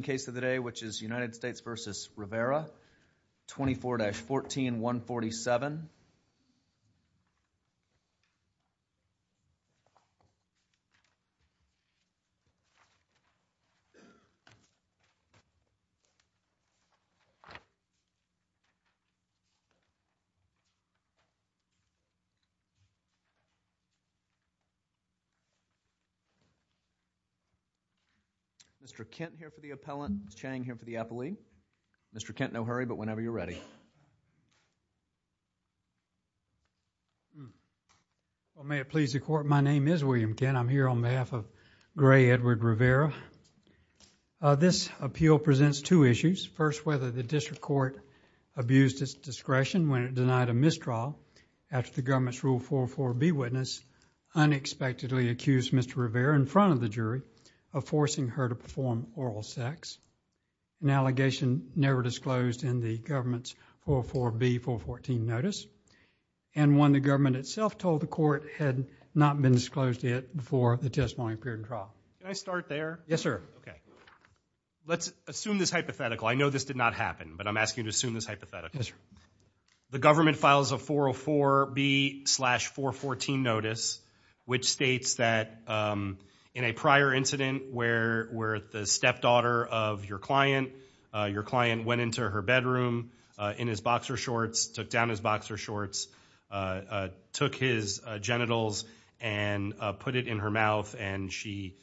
Second case of the day, which is United States v. Rivera, 24-14147. Mr. Kent here for the appellant, Mr. Chang here for the appellee. Mr. Kent, no hurry, but whenever you're ready. May it please the Court, my name is William Kent. I'm here on behalf of Gray Edward Rivera. This appeal presents two issues. First, whether the District Court abused its discretion when it denied a misdraw after the government's Rule 404B witness unexpectedly accused Mr. Rivera in front of the jury of forcing her to perform oral sex, an allegation never disclosed in the government's 404B-414 notice, and one the government itself told the Court had not been disclosed yet before the testimony appeared in trial. Can I start there? Yes, sir. Okay. Let's assume this hypothetical. I know this did not happen, but I'm asking you to assume this hypothetical. The government files a 404B-414 notice, which states that in a prior incident where the stepdaughter of your client, your client went into her bedroom in his boxer shorts, took down his boxer shorts, took his genitals, and put it in her mouth, and she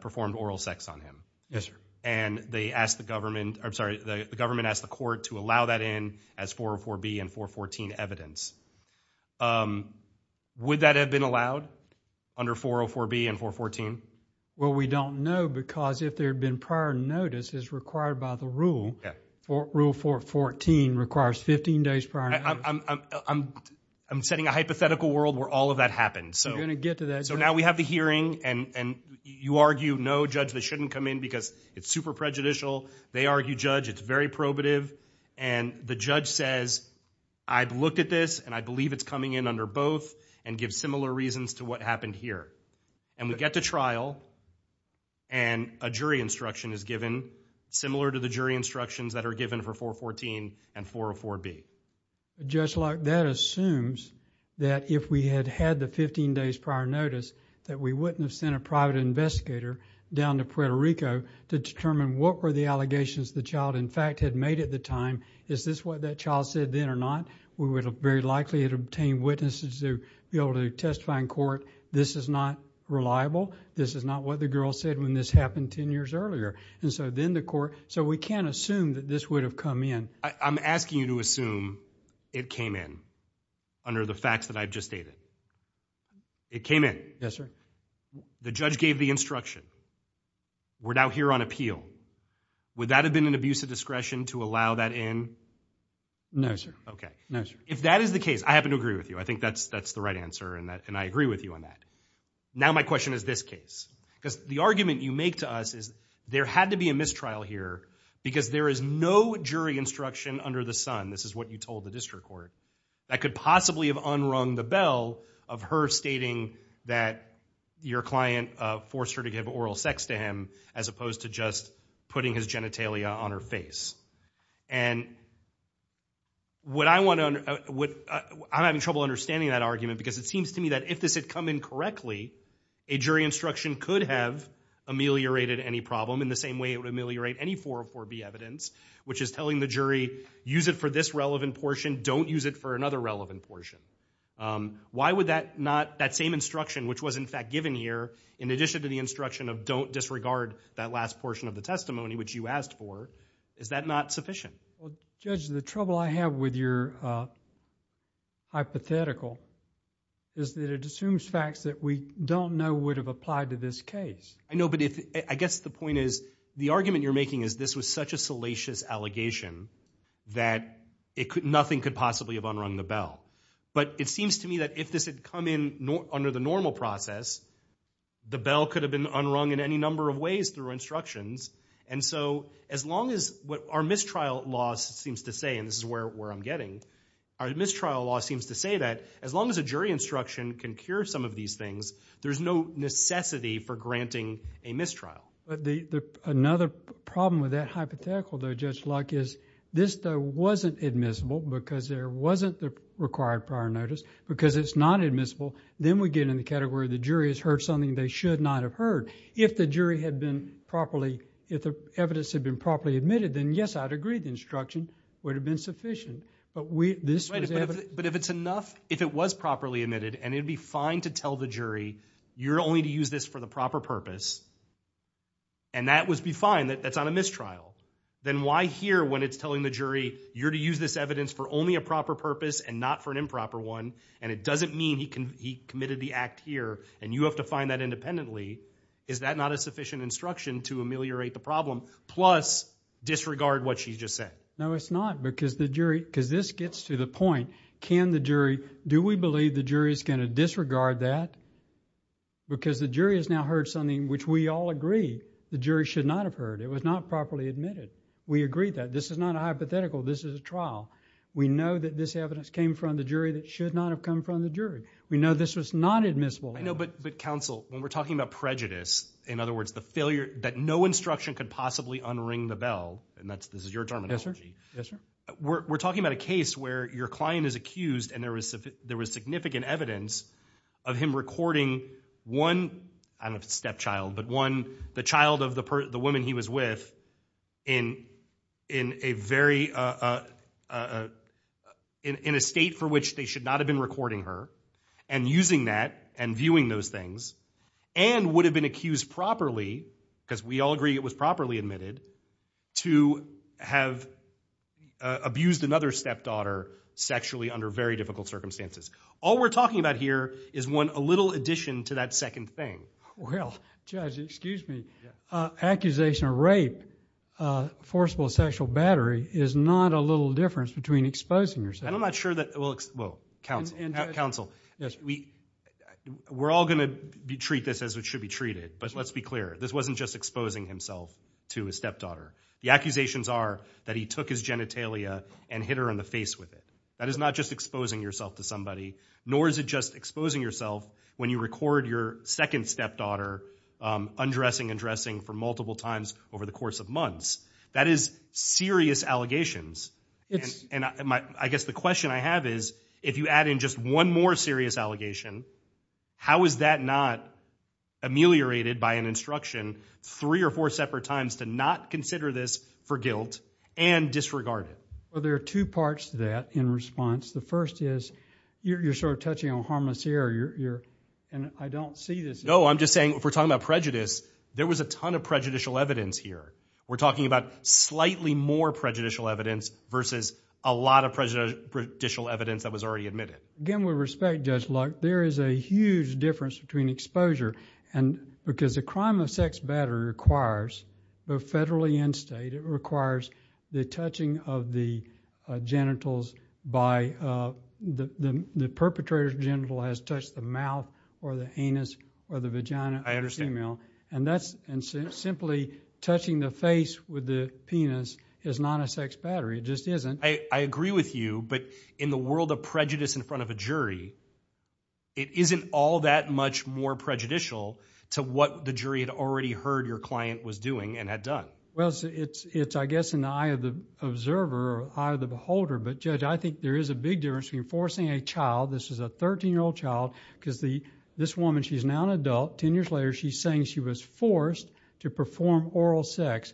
performed oral sex on him. Yes, sir. And they asked the government, I'm sorry, the government asked the Court to allow that in as 404B and 414 evidence. Would that have been allowed under 404B and 414? Well, we don't know because if there had been prior notice as required by the rule, Rule 414 requires 15 days prior notice. I'm setting a hypothetical world where all of that happened. You're going to get to that. So now we have the hearing, and you argue, no, Judge, they shouldn't come in because it's super prejudicial. They argue, Judge, it's very probative. And the judge says, I've looked at this, and I believe it's coming in under both, and gives similar reasons to what happened here. And we get to trial, and a jury instruction is given, similar to the jury instructions that are given for 414 and 404B. Judge Locke, that assumes that if we had had the 15 days prior notice, that we wouldn't have sent a private investigator down to Puerto Rico to determine what were the allegations the child, in fact, had made at the time. Is this what that child said then or not? We would have very likely obtained witnesses to be able to testify in court. This is not reliable. This is not what the girl said when this happened 10 years earlier. And so then the court, so we can't assume that this would have come in. I'm asking you to assume it came in under the facts that I've just stated. It came in. Yes, sir. The judge gave the instruction. We're now here on appeal. Would that have been an abuse of discretion to allow that in? No, sir. Okay. No, sir. If that is the case, I happen to agree with you. I think that's the right answer, and I agree with you on that. Now my question is this case, because the argument you make to us is there had to be a mistrial here because there is no jury instruction under the sun. This is what you told the district court that could possibly have unrung the bell of her stating that your client forced her to give oral sex to him as opposed to just putting his genitalia on her face. And what I want to, I'm having trouble understanding that argument because it seems to me that if this had come in correctly, a jury instruction could have ameliorated any problem in the same way it would ameliorate any 404B evidence, which is telling the jury, use it for this relevant portion, don't use it for another relevant portion. Why would that not, that same instruction, which was in fact given here, in addition to the instruction of don't disregard that last portion of the testimony, which you asked for, is that not sufficient? Well Judge, the trouble I have with your hypothetical is that it assumes facts that we don't know would have applied to this case. I know, but I guess the point is, the argument you're making is this was such a salacious allegation that nothing could possibly have unrung the bell. But it seems to me that if this had come in under the normal process, the bell could have been unrung in any number of ways through instructions. And so, as long as what our mistrial law seems to say, and this is where I'm getting, our mistrial law seems to say that as long as a jury instruction can cure some of these things, there's no necessity for granting a mistrial. Another problem with that hypothetical though, Judge Luck, is this though wasn't admissible because there wasn't the required prior notice. Because it's not admissible, then we get in the category of the jury has heard something they should not have heard. If the jury had been properly, if the evidence had been properly admitted, then yes, I'd agree the instruction would have been sufficient. But if it's enough, if it was properly admitted, and it'd be fine to tell the jury, you're only to use this for the proper purpose, and that would be fine, that's not a mistrial. Then why here, when it's telling the jury, you're to use this evidence for only a proper purpose and not for an improper one, and it doesn't mean he committed the act here, and you have to find that independently, is that not a sufficient instruction to ameliorate the problem, plus disregard what she just said? No, it's not, because the jury, because this gets to the point, can the jury, do we believe the jury is going to disregard that? Because the jury has now heard something which we all agree the jury should not have heard. It was not properly admitted. We agree that. This is not a hypothetical. This is a trial. We know that this evidence came from the jury that should not have come from the jury. We know this was not admissible. I know, but counsel, when we're talking about prejudice, in other words, the failure that no instruction could possibly unring the bell, and this is your terminology, we're talking about a case where your client is accused and there was significant evidence of him recording one, I don't know if it's a stepchild, but one, the child of the woman he was with in a very, in a state for which they should not have been recording her, and using that and viewing those things, and would have been accused properly, because we all agree it was properly admitted, to have abused another stepdaughter sexually under very difficult circumstances. All we're talking about here is one, a little addition to that second thing. Well, judge, excuse me, accusation of rape, forcible sexual battery, is not a little difference between exposing yourself. And I'm not sure that, well, counsel. Counsel, we're all going to treat this as it should be treated, but let's be clear. This wasn't just exposing himself to a stepdaughter. The accusations are that he took his genitalia and hit her in the face with it. That is not just exposing yourself to somebody, nor is it just exposing yourself when you record your second stepdaughter undressing and dressing for multiple times over the course of months. That is serious allegations. And I guess the question I have is, if you add in just one more serious allegation, how is that not ameliorated by an instruction three or four separate times to not consider this for guilt and disregard it? Well, there are two parts to that in response. The first is, you're sort of touching on harmless here. And I don't see this. No, I'm just saying, if we're talking about prejudice, there was a ton of prejudicial evidence here. We're talking about slightly more prejudicial evidence versus a lot of prejudicial evidence that was already admitted. Again, with respect, Judge Luck, there is a huge difference between exposure. And because a crime of sex battery requires, both federally and state, it requires the touching of the genitals by the perpetrator's genital has touched the mouth or the anus or the vagina of the female. And simply touching the face with the penis is not a sex battery. It just isn't. I agree with you. But in the world of prejudice in front of a jury, it isn't all that much more prejudicial to what the jury had already heard your client was doing and had done. Well, it's, I guess, in the eye of the observer or eye of the beholder. But Judge, I think there is a big difference between forcing a child, this is a 13-year-old child, because this woman, she's now an adult, 10 years later, she's saying she was forced to perform oral sex.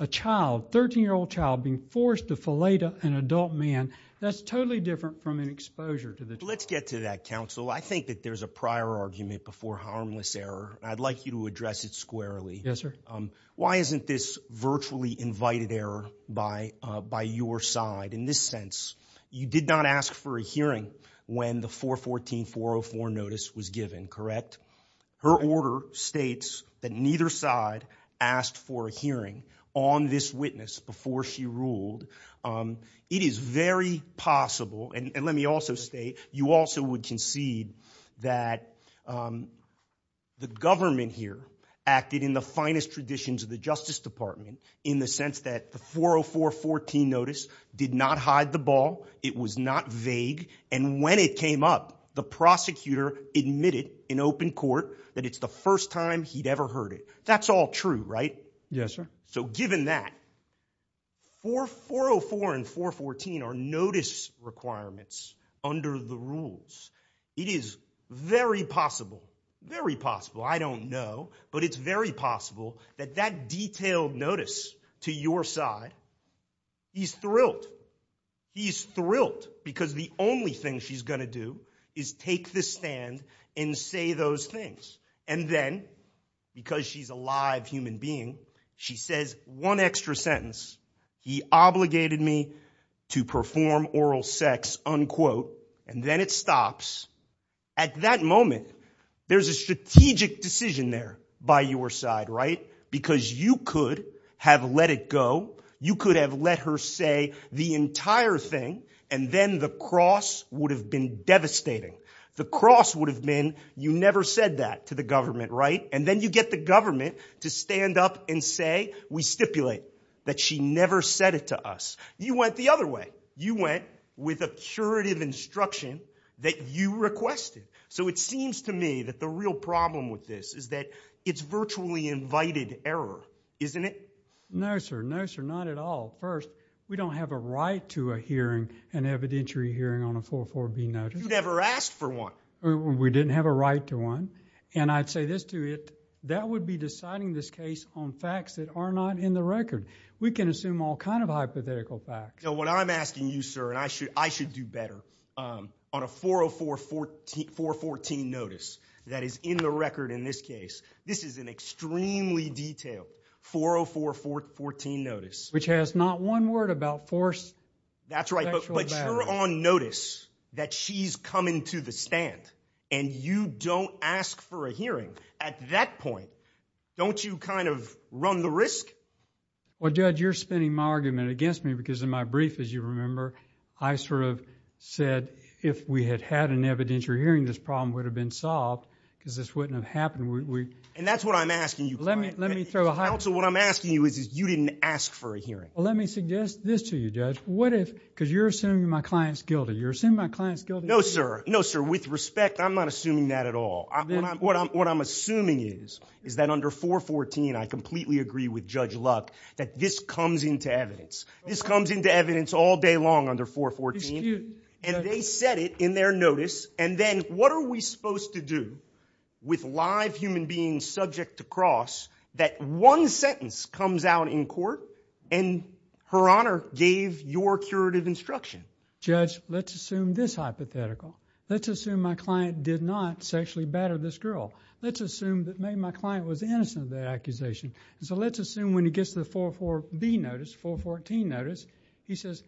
A child, 13-year-old child, being forced to fillet an adult man, that's totally different from an exposure to the jury. Let's get to that, counsel. I think that there's a prior argument before harmless error, and I'd like you to address it squarely. Yes, sir. Why isn't this virtually invited error by your side in this sense? You did not ask for a hearing when the 414-404 notice was given, correct? Her order states that neither side asked for a hearing on this witness before she ruled. It is very possible, and let me also state, you also would concede that the government here acted in the finest traditions of the Justice Department in the sense that the 404-414 notice did not hide the ball, it was not vague, and when it came up, the prosecutor admitted in open court that it's the first time he'd ever heard it. That's all true, right? Yes, sir. So given that, 404 and 414 are notice requirements under the rules. It is very possible, very possible, I don't know, but it's very possible that that detailed notice to your side, he's thrilled, he's thrilled because the only thing she's going to do is take the stand and say those things, and then, because she's a live human being, she says one extra sentence, he obligated me to perform oral sex, unquote, and then it stops. At that moment, there's a strategic decision there by your side, right? Because you could have let it go, you could have let her say the entire thing, and then the cross would have been devastating. The cross would have been, you never said that to the government, right? And then you get the government to stand up and say, we stipulate that she never said it to us. You went the other way. You went with a curative instruction that you requested. So it seems to me that the real problem with this is that it's virtually invited error, isn't it? No, sir. No, sir. Not at all. First, we don't have a right to a hearing, an evidentiary hearing on a 404-B notice. You never asked for one. We didn't have a right to one. And I'd say this to it, that would be deciding this case on facts that are not in the record. We can assume all kind of hypothetical facts. So what I'm asking you, sir, and I should do better, on a 404-14 notice that is in the record in this case, this is an extremely detailed 404-14 notice. Which has not one word about forced sexual abuse. That's right. But you're on notice that she's coming to the stand, and you don't ask for a hearing. At that point, don't you kind of run the risk? Well, Judge, you're spinning my argument against me because in my brief, as you remember, I sort of said if we had had an evidentiary hearing, this problem would have been solved because this wouldn't have happened. And that's what I'm asking you. Let me throw a hypothetical. Counsel, what I'm asking you is you didn't ask for a hearing. Let me suggest this to you, Judge. What if, because you're assuming my client's guilty. You're assuming my client's guilty. No, sir. No, sir. With respect, I'm not assuming that at all. What I'm assuming is, is that under 414, I completely agree with Judge Luck that this comes into evidence. This comes into evidence all day long under 414, and they said it in their notice. And then what are we supposed to do with live human beings subject to cross that one sentence comes out in court, and Her Honor gave your curative instruction? Judge, let's assume this hypothetical. Let's assume my client did not sexually batter this girl. Let's assume that maybe my client was innocent of that accusation. So let's assume when he gets the 414 notice, he says,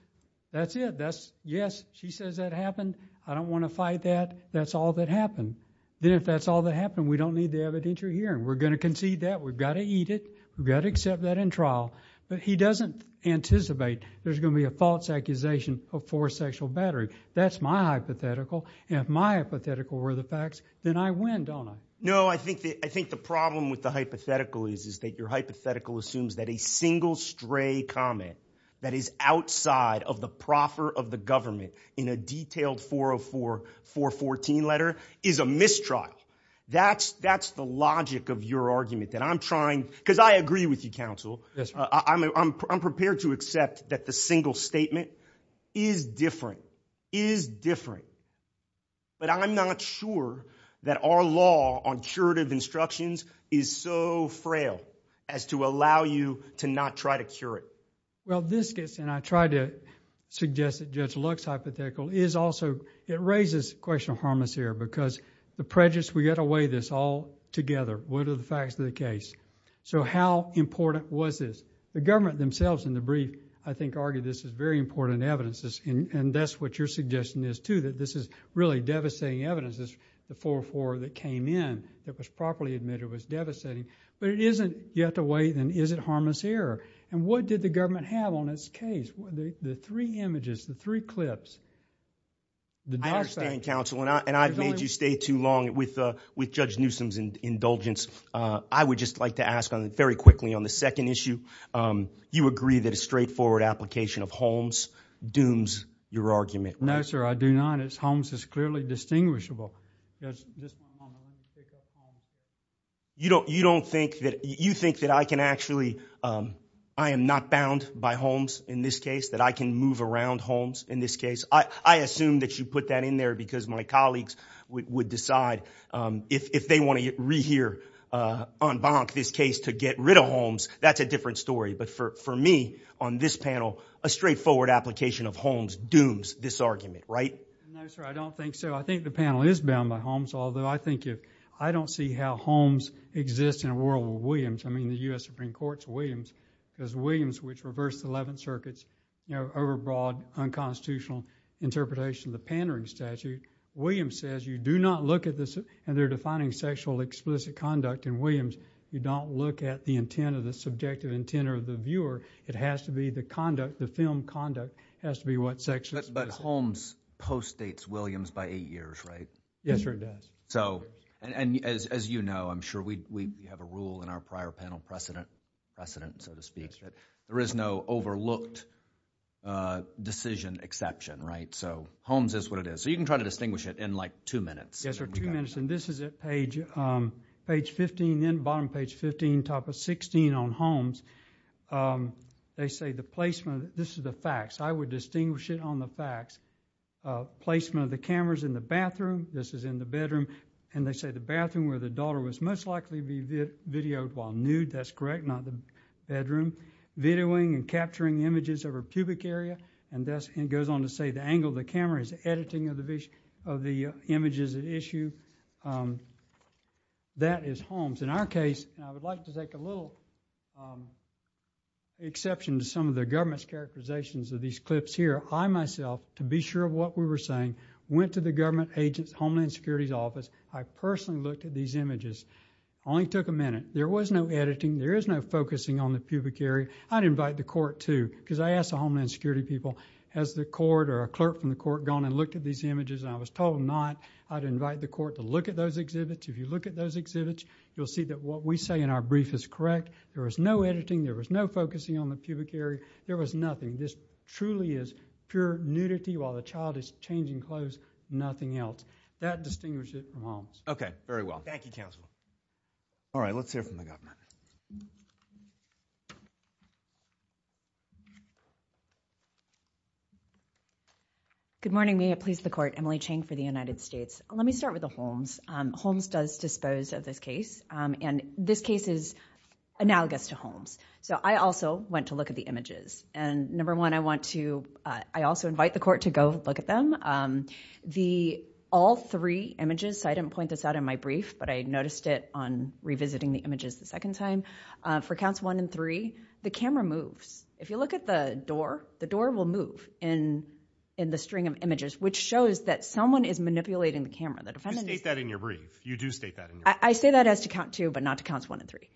that's it, that's, yes, she says that happened. I don't want to fight that. That's all that happened. Then if that's all that happened, we don't need the evidentiary hearing. We're going to concede that. We've got to eat it. We've got to accept that in trial. But he doesn't anticipate there's going to be a false accusation of forced sexual battering. That's my hypothetical. And if my hypothetical were the facts, then I win, don't I? No, I think the problem with the hypothetical is that your hypothetical assumes that a single stray comment that is outside of the proffer of the government in a detailed 404, 414 letter is a mistrial. That's the logic of your argument that I'm trying, because I agree with you, counsel. I'm prepared to accept that the single statement is different, is different, but I'm not sure that our law on curative instructions is so frail as to allow you to not try to cure it. Well, this gets, and I try to suggest that Judge Luck's hypothetical is also, it raises the question of harmless error, because the prejudice, we've got to weigh this all together. What are the facts of the case? So how important was this? The government themselves in the brief, I think, argue this is very important evidence, and that's what your suggestion is too, that this is really devastating evidence, the 404 that came in that was properly admitted was devastating, but it isn't, you have to weigh then, is it harmless error? And what did the government have on its case? The three images, the three clips, the document. I understand, counsel, and I've made you stay too long with Judge Newsom's indulgence. I would just like to ask very quickly on the second issue, you agree that a straightforward application of Holmes dooms your argument, right? No, sir, I do not. Holmes is clearly distinguishable. You don't think that, you think that I can actually, I am not bound by Holmes in this case, that I can move around Holmes in this case? I assume that you put that in there because my colleagues would decide, if they want to rehear en banc this case to get rid of Holmes, that's a different story, but for me, on this panel, a straightforward application of Holmes dooms this argument, right? No, sir, I don't think so. I think the panel is bound by Holmes, although I think if, I don't see how Holmes exists in a world with Williams. I mean, the U.S. Supreme Court's Williams, because Williams, which reversed the 11th Circuit's, you know, overbroad, unconstitutional interpretation of the pandering statute, Williams says you do not look at this, and they're defining sexual explicit conduct in Williams, you don't look at the intent or the subjective intent of the viewer. It has to be the conduct, the film conduct, has to be what's sexually explicit. But Holmes postdates Williams by eight years, right? Yes, sir, it does. And as you know, I'm sure we have a rule in our prior panel precedent, so to speak, that there is no overlooked decision exception, right? So Holmes is what it is. So you can try to distinguish it in, like, two minutes. Yes, sir, two minutes, and this is at page 15, bottom page 15, top of 16 on Holmes. They say the placement, this is the facts, I would distinguish it on the facts. Placement of the cameras in the bathroom, this is in the bedroom, and they say the bathroom where the daughter was most likely to be videoed while nude, that's correct, not the bedroom. Videoing and capturing images of her pubic area, and it goes on to say the angle of the camera is the editing of the images at issue. That is Holmes. In our case, and I would like to make a little exception to some of the government's characterizations of these clips here, I myself, to be sure of what we were saying, went to the government agent's Homeland Security's office, I personally looked at these images, only took a minute. There was no editing, there is no focusing on the pubic area. I'd invite the court, too, because I asked the Homeland Security people, has the court or a clerk from the court gone and looked at these images, and I was told not, I'd invite the court to look at those exhibits. If you look at those exhibits, you'll see that what we say in our brief is correct. There was no editing, there was no focusing on the pubic area, there was nothing. This truly is pure nudity while the child is changing clothes, nothing else. That distinguishes it from Holmes. Okay, very well. Thank you, counsel. All right, let's hear from the governor. Good morning, may it please the court, Emily Chang for the United States. Let me start with the Holmes. Holmes does dispose of this case, and this case is analogous to Holmes, so I also went to look at the images, and number one, I also invite the court to go look at them. All three images, I didn't point this out in my brief, but I noticed it on revisiting the images the second time. For counts one and three, the camera moves. If you look at the door, the door will move in the string of images, which shows that someone is manipulating the camera. You state that in your brief. You do state that in your brief. I say that as to count two, but not to counts one and three.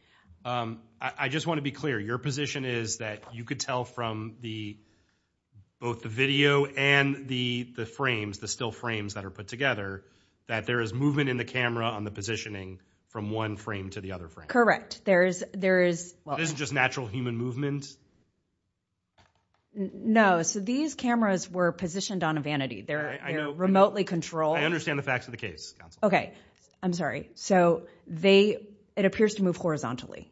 I just want to be clear. Your position is that you could tell from both the video and the frames, the still frames that are put together, that there is movement in the camera on the positioning from one frame to the other frame. There is... It isn't just natural human movement? No. So, these cameras were positioned on a vanity. They're remotely controlled. I understand the facts of the case. Okay. I'm sorry. So, they... It appears to move horizontally.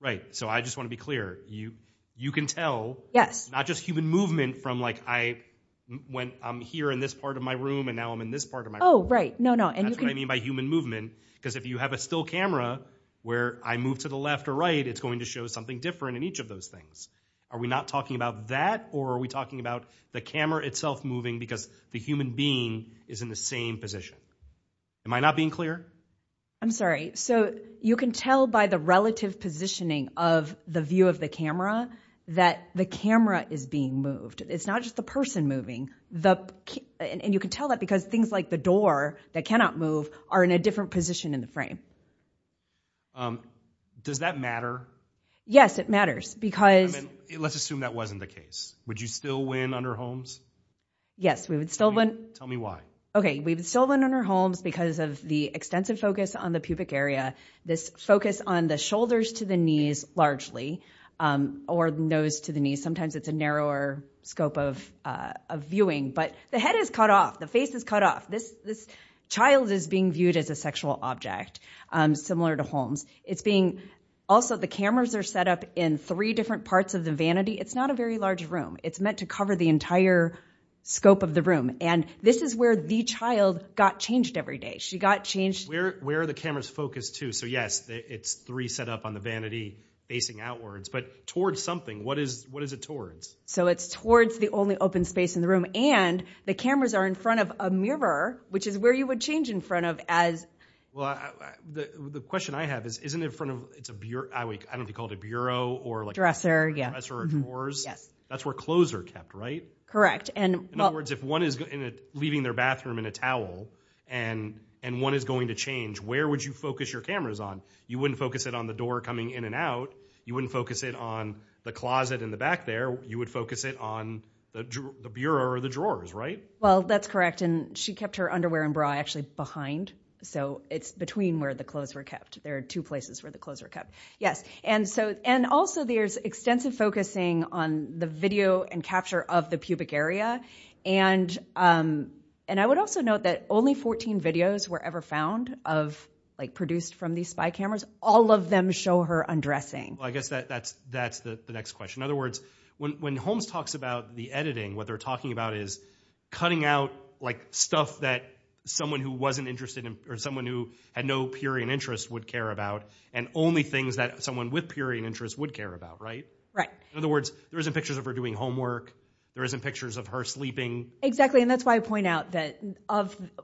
Right. So, I just want to be clear. You can tell. Yes. Not just human movement from, like, I'm here in this part of my room, and now I'm in this part of my room. Oh, right. No, no. That's what I mean by human movement, because if you have a still camera where I move to the left or right, it's going to show something different in each of those things. Are we not talking about that, or are we talking about the camera itself moving because the human being is in the same position? Am I not being clear? I'm sorry. So, you can tell by the relative positioning of the view of the camera that the camera is being moved. It's not just the person moving. And you can tell that because things like the door that cannot move are in a different position in the frame. Does that matter? Yes, it matters, because... Let's assume that wasn't the case. Would you still win under Holmes? Yes. We would still win. Tell me why. Okay. We would still win under Holmes because of the extensive focus on the pubic area, this focus on the shoulders to the knees, largely, or nose to the knees. Sometimes it's a narrower scope of viewing. But the head is cut off, the face is cut off. This child is being viewed as a sexual object, similar to Holmes. It's being... Also, the cameras are set up in three different parts of the vanity. It's not a very large room. It's meant to cover the entire scope of the room. And this is where the child got changed every day. She got changed... Where are the cameras focused, too? So, yes, it's three set up on the vanity facing outwards. But towards something, what is it towards? So it's towards the only open space in the room. And the cameras are in front of a mirror, which is where you would change in front of as... Well, the question I have is, isn't it in front of... It's a bureau... I don't know if you call it a bureau, or like... Dresser, yeah. Dresser or drawers? Yes. That's where clothes are kept, right? Correct. In other words, if one is leaving their bathroom in a towel, and one is going to change, where would you focus your cameras on? You wouldn't focus it on the door coming in and out. You wouldn't focus it on the closet in the back there. You would focus it on the bureau or the drawers, right? Well, that's correct. And she kept her underwear and bra actually behind. So it's between where the clothes were kept. There are two places where the clothes were kept. Yes. And also, there's extensive focusing on the video and capture of the pubic area. And I would also note that only 14 videos were ever found of... Like produced from these spy cameras. All of them show her undressing. Well, I guess that's the next question. In other words, when Holmes talks about the editing, what they're talking about is cutting out stuff that someone who wasn't interested in, or someone who had no purian interest would care about, and only things that someone with purian interest would care about, right? Right. In other words, there isn't pictures of her doing homework. There isn't pictures of her sleeping. Exactly. Exactly. And that's why I point out that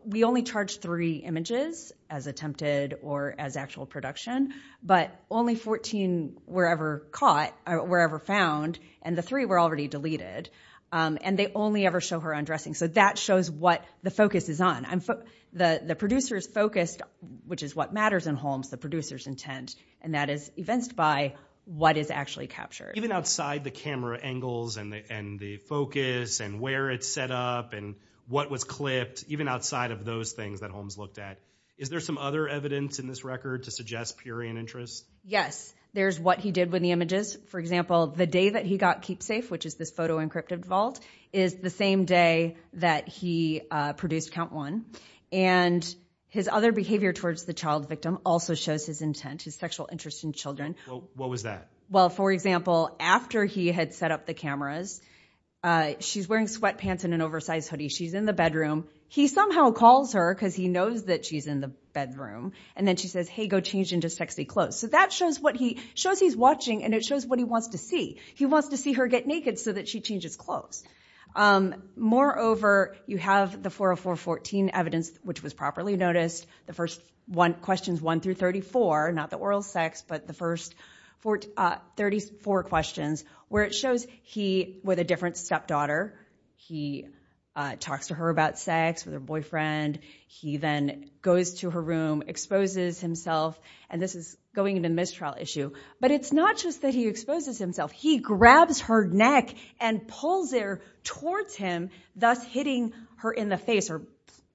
we only charge three images as attempted or as actual production, but only 14 were ever caught, were ever found, and the three were already deleted. And they only ever show her undressing. So that shows what the focus is on. The producer's focused, which is what matters in Holmes, the producer's intent. And that is evinced by what is actually captured. Even outside the camera angles, and the focus, and where it's set up, and what was clipped, even outside of those things that Holmes looked at, is there some other evidence in this record to suggest purian interest? Yes. There's what he did with the images. For example, the day that he got KeepSafe, which is this photo encrypted vault, is the same day that he produced Count One. And his other behavior towards the child victim also shows his intent, his sexual interest in children. What was that? Well, for example, after he had set up the cameras, she's wearing sweatpants and an oversized hoodie. She's in the bedroom. He somehow calls her, because he knows that she's in the bedroom. And then she says, hey, go change into sexy clothes. So that shows what he, shows he's watching, and it shows what he wants to see. He wants to see her get naked so that she changes clothes. Moreover, you have the 404.14 evidence, which was properly noticed. The first one, questions one through 34, not the oral sex, but the first 34 questions, where it shows he, with a different stepdaughter, he talks to her about sex with her boyfriend. He then goes to her room, exposes himself. And this is going into mistrial issue. But it's not just that he exposes himself. He grabs her neck and pulls her towards him, thus hitting her in the face or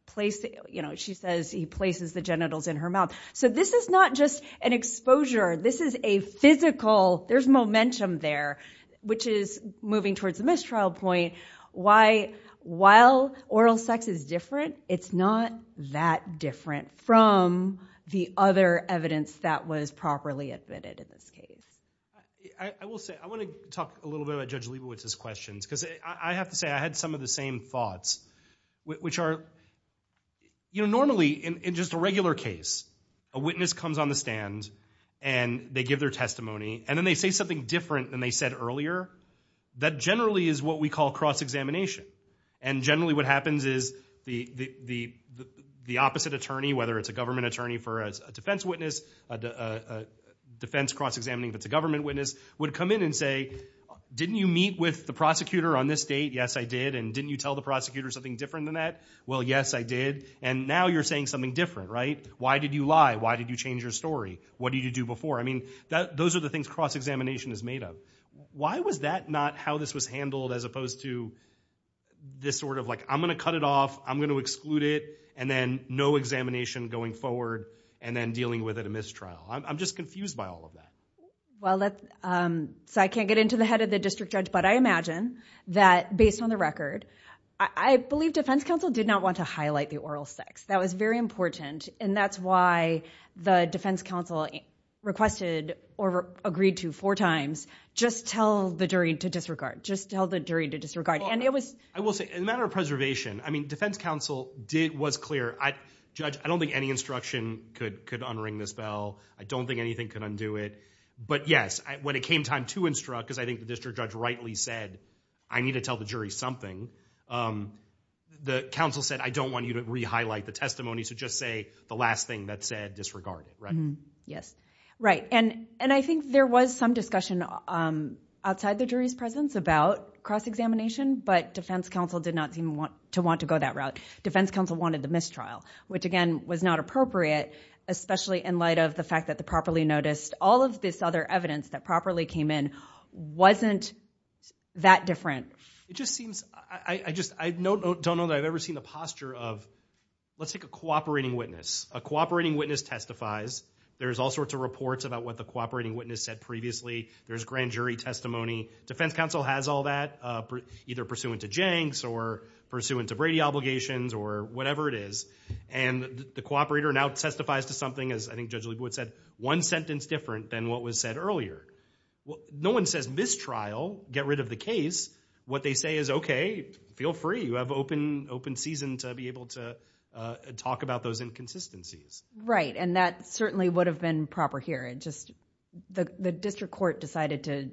place, you know, she says he places the genitals in her mouth. So this is not just an exposure. This is a physical, there's momentum there, which is moving towards the mistrial point. Why, while oral sex is different, it's not that different from the other evidence that was properly admitted in this case. I will say, I want to talk a little bit about Judge Leibowitz's questions, because I have to say, I had some of the same thoughts, which are, you know, normally, in just a regular case, a witness comes on the stand, and they give their testimony, and then they say something different than they said earlier. That generally is what we call cross-examination. And generally what happens is the opposite attorney, whether it's a government attorney for a defense witness, a defense cross-examining if it's a government witness, would come in and say, didn't you meet with the prosecutor on this date? Yes, I did. And didn't you tell the prosecutor something different than that? Well, yes, I did. And now you're saying something different, right? Why did you lie? Why did you change your story? What did you do before? I mean, those are the things cross-examination is made of. Why was that not how this was handled, as opposed to this sort of, like, I'm going to cut it off, I'm going to exclude it, and then no examination going forward, and then dealing with it at mistrial? I'm just confused by all of that. Well, so I can't get into the head of the district judge, but I imagine that, based on the record, I believe defense counsel did not want to highlight the oral sex. That was very important. And that's why the defense counsel requested, or agreed to four times, just tell the jury to disregard. Just tell the jury to disregard. And it was- I will say, in a matter of preservation, I mean, defense counsel was clear. Judge, I don't think any instruction could unring this bell. I don't think anything could undo it. But yes, when it came time to instruct, because I think the district judge rightly said, I need to tell the jury something, the counsel said, I don't want you to re-highlight the testimony, so just say the last thing that's said, disregard it, right? Yes. Right. And I think there was some discussion outside the jury's presence about cross-examination, but defense counsel did not seem to want to go that route. Defense counsel wanted the mistrial, which, again, was not appropriate, especially in the fact that the properly noticed. All of this other evidence that properly came in wasn't that different. It just seems, I don't know that I've ever seen the posture of, let's take a cooperating witness. A cooperating witness testifies. There's all sorts of reports about what the cooperating witness said previously. There's grand jury testimony. Defense counsel has all that, either pursuant to Jenks or pursuant to Brady obligations or whatever it is. And the cooperator now testifies to something, as I think Judge Leibowitz said, one sentence different than what was said earlier. No one says mistrial, get rid of the case. What they say is, okay, feel free, you have open season to be able to talk about those inconsistencies. Right. And that certainly would have been proper here. The district court decided to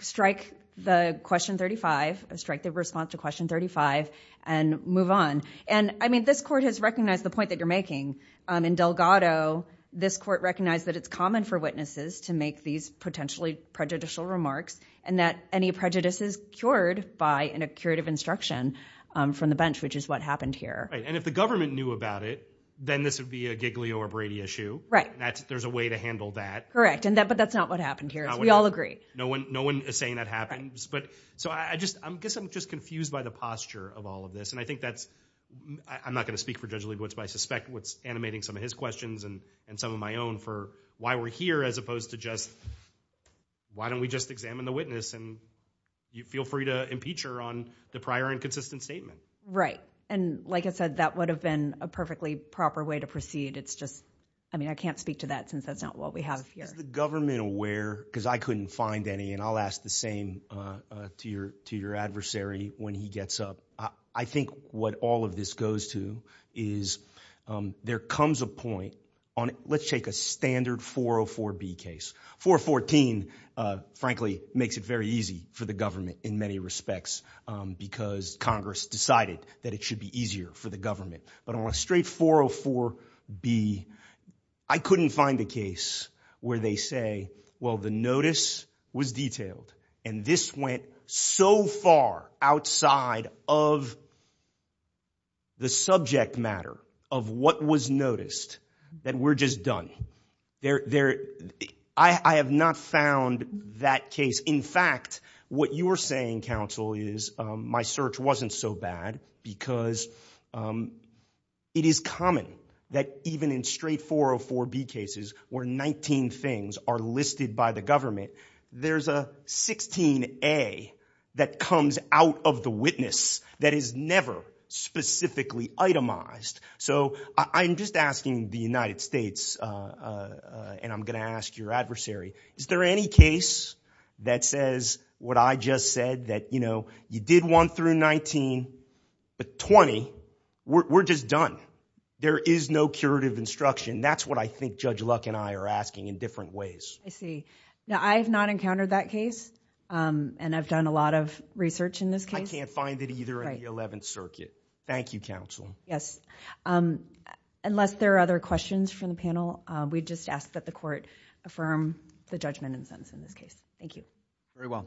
strike the question 35, strike the response to question 35, and move on. And I mean, this court has recognized the point that you're making. In Delgado, this court recognized that it's common for witnesses to make these potentially prejudicial remarks and that any prejudice is cured by an accurative instruction from the bench, which is what happened here. Right. And if the government knew about it, then this would be a Giglio or Brady issue. Right. There's a way to handle that. Correct. But that's not what happened here. We all agree. No one is saying that happens. So I guess I'm just confused by the posture of all of this. And I think that's, I'm not going to speak for Judge Leibowitz, but I suspect what's animating some of his questions and some of my own for why we're here as opposed to just, why don't we just examine the witness and feel free to impeach her on the prior inconsistent statement. Right. And like I said, that would have been a perfectly proper way to proceed. It's just, I mean, I can't speak to that since that's not what we have here. Is the government aware, because I couldn't find any, and I'll ask the same to your adversary when he gets up. I think what all of this goes to is there comes a point on, let's take a standard 404B case. 414, frankly, makes it very easy for the government in many respects because Congress decided that it should be easier for the government. But on a straight 404B, I couldn't find a case where they say, well, the notice was detailed and this went so far outside of the subject matter of what was noticed that we're just done. I have not found that case. In fact, what you're saying, counsel, is my search wasn't so bad because it is common that even in straight 404B cases where 19 things are listed by the government, there's a 16A that comes out of the witness that is never specifically itemized. So I'm just asking the United States, and I'm going to ask your adversary, is there any case that says what I just said, that, you know, you did one through 19, but 20, we're just done. There is no curative instruction. That's what I think Judge Luck and I are asking in different ways. I see. Now, I have not encountered that case, and I've done a lot of research in this case. I can't find it either in the Eleventh Circuit. Thank you, counsel. Yes. Unless there are other questions from the panel, we just ask that the Court affirm the judgment and sentence in this case. Thank you. Very well.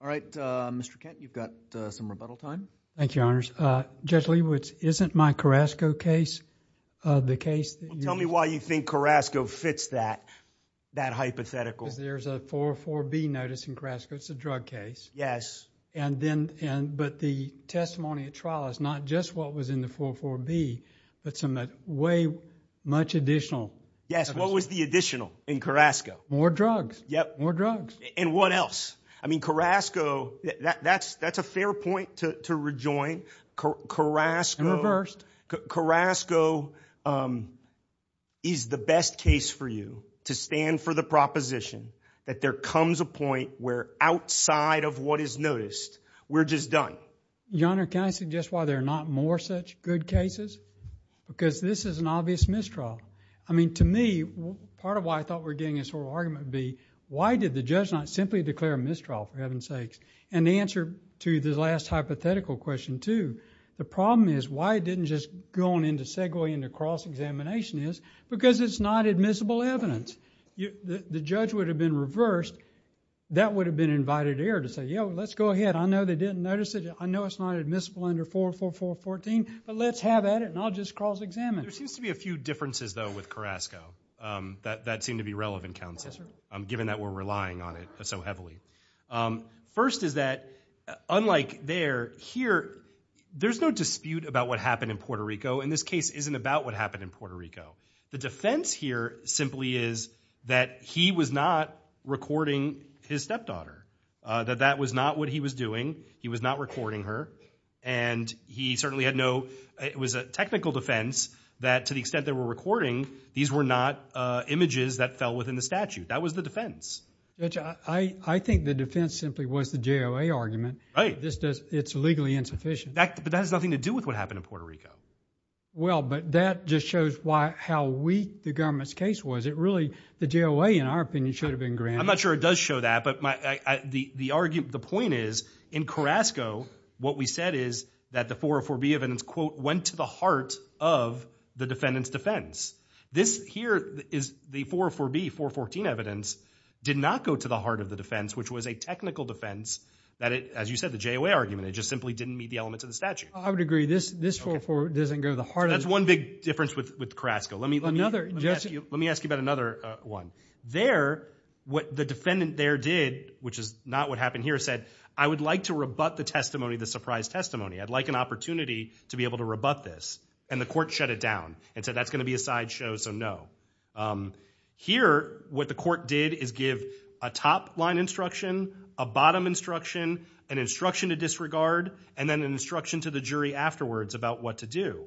All right. Mr. Kent, you've got some rebuttal time. Thank you, Your Honors. Judge Leibowitz, isn't my Carrasco case the case... Well, tell me why you think Carrasco fits that hypothetical. There's a 404B notice in Carrasco, it's a drug case, but the testimony at trial is not just what was in the 404B, but some way much additional... Yes. What was the additional in Carrasco? More drugs. Yep. More drugs. And what else? I mean, Carrasco... that's a fair point to rejoin. Carrasco... And reversed. Carrasco is the best case for you to stand for the proposition that there comes a point where outside of what is noticed, we're just done. Your Honor, can I suggest why there are not more such good cases? Because this is an obvious mistrial. I mean, to me, part of why I thought we were getting this oral argument would be, why did the judge not simply declare a mistrial, for heaven's sakes? And the answer to the last hypothetical question, too, the problem is why it didn't just go on into segue into cross-examination is because it's not admissible evidence. The judge would have been reversed. That would have been an invited error to say, you know, let's go ahead. I know they didn't notice it. I know it's not admissible under 404.414, but let's have at it and I'll just cross-examine. There seems to be a few differences, though, with Carrasco that seem to be relevant, counsel, given that we're relying on it so heavily. First is that, unlike there, here, there's no dispute about what happened in Puerto Rico. And this case isn't about what happened in Puerto Rico. The defense here simply is that he was not recording his stepdaughter, that that was not what he was doing. He was not recording her. And he certainly had no—it was a technical defense that, to the extent they were recording, these were not images that fell within the statute. That was the defense. Judge, I think the defense simply was the JOA argument. Right. This does—it's legally insufficient. But that has nothing to do with what happened in Puerto Rico. Well, but that just shows why—how weak the government's case was. It really—the JOA, in our opinion, should have been granted. I'm not sure it does show that, but my—the argument—the point is, in Carrasco, what we said is that the 404B evidence, quote, went to the heart of the defendant's defense. This here is the 404B, 414 evidence, did not go to the heart of the defense, which was a technical defense that it—as you said, the JOA argument, it just simply didn't meet the elements of the statute. I would agree. This 404 doesn't go to the heart of the— That's one big difference with Carrasco. Let me— Another— Let me ask you about another one. There, what the defendant there did, which is not what happened here, said, I would like to rebut the testimony, the surprise testimony. I'd like an opportunity to be able to rebut this. And the court shut it down and said, that's going to be a sideshow, so no. Here what the court did is give a top-line instruction, a bottom instruction, an instruction to disregard, and then an instruction to the jury afterwards about what to do.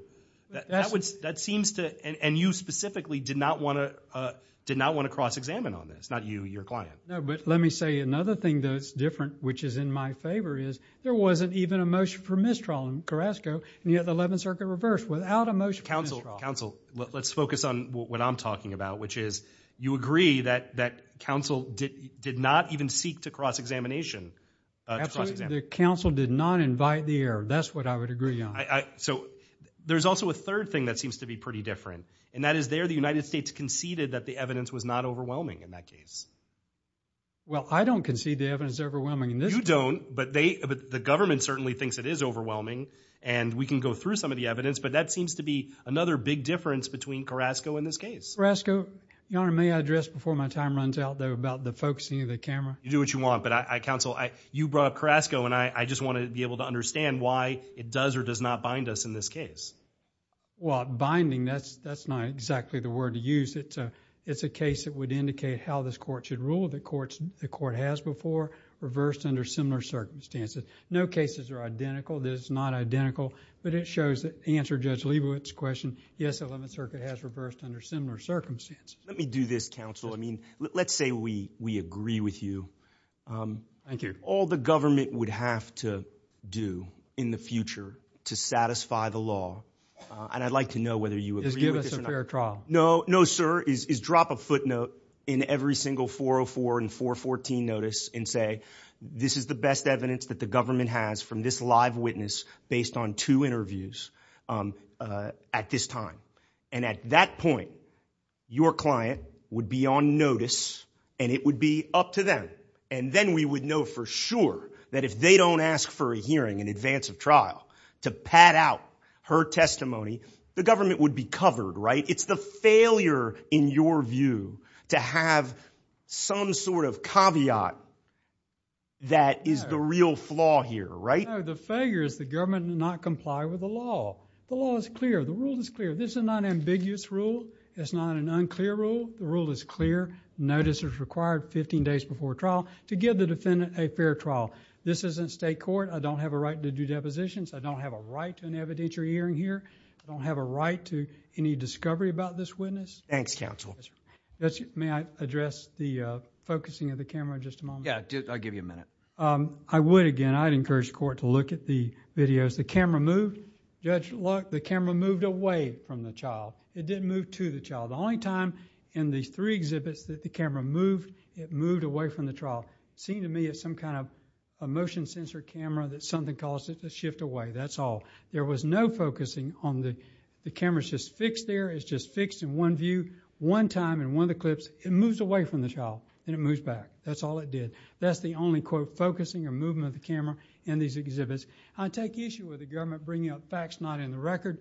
That seems to—and you specifically did not want to—did not want to cross-examine on this, not you, your client. No, but let me say another thing that's different, which is in my favor, is there wasn't even a motion for mistrawal in Carrasco, and yet the Eleventh Circuit reversed without a motion for mistrawal. Counsel, counsel, let's focus on what I'm talking about, which is, you agree that, that counsel did not even seek to cross-examination, to cross-examine. The counsel did not invite the error. That's what I would agree on. So there's also a third thing that seems to be pretty different, and that is there the United States conceded that the evidence was not overwhelming in that case. Well, I don't concede the evidence is overwhelming in this case. You don't, but they, the government certainly thinks it is overwhelming, and we can go through some of the evidence, but that seems to be another big difference between Carrasco and this case. Carrasco, your Honor, may I address before my time runs out, though, about the focusing of the camera? You do what you want, but I, counsel, I, you brought up Carrasco, and I, I just want to be able to understand why it does or does not bind us in this case. Well, binding, that's, that's not exactly the word to use. It's a, it's a case that would indicate how this court should rule, the courts, the court has before, reversed under similar circumstances. No cases are identical. This is not identical, but it shows that, to answer Judge Leibowitz's question, yes, the Eleventh Circuit has reversed under similar circumstances. Let me do this, counsel. I mean, let's say we, we agree with you. Thank you. All the government would have to do in the future to satisfy the law, and I'd like to know whether you agree with this or not. Just give us a fair trial. No, no, sir, is, is drop a footnote in every single 404 and 414 notice and say, this is the best evidence that the government has from this live witness based on two interviews at this time. And at that point, your client would be on notice, and it would be up to them. And then we would know for sure that if they don't ask for a hearing in advance of trial to pad out her testimony, the government would be covered, right? It's the failure, in your view, to have some sort of caveat that is the real flaw here, right? No, the failure is the government did not comply with the law. The law is clear. The rule is clear. This is not an ambiguous rule. It's not an unclear rule. The rule is clear. Notice is required 15 days before trial to give the defendant a fair trial. This isn't state court. I don't have a right to do depositions. I don't have a right to an evidentiary hearing here. I don't have a right to any discovery about this witness. Thanks counsel. Judge, may I address the focusing of the camera just a moment? Yeah, I'll give you a minute. I would again. I'd encourage the court to look at the videos. The camera moved. Judge, look, the camera moved away from the child. It didn't move to the child. The only time in these three exhibits that the camera moved, it moved away from the child. It seemed to me it's some kind of a motion sensor camera that something caused it to shift away. That's all. There was no focusing on the cameras just fixed there. It's just fixed in one view. One time in one of the clips, it moves away from the child and it moves back. That's all it did. That's the only quote focusing or movement of the camera in these exhibits. I take issue with the government bringing up facts not in the record.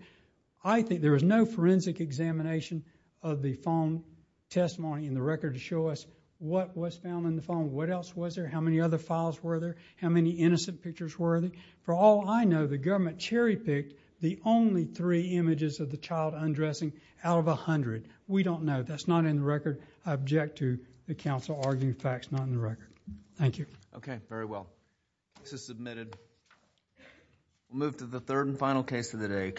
I think there was no forensic examination of the phone testimony in the record to show us what was found in the phone. What else was there? How many other files were there? How many innocent pictures were there? For all I know, the government cherry-picked the only three images of the child undressing out of a hundred. We don't know. That's not in the record. I object to the counsel arguing facts not in the record. Thank you. Okay. Very well. This is submitted. We'll move to the third and final case of the day.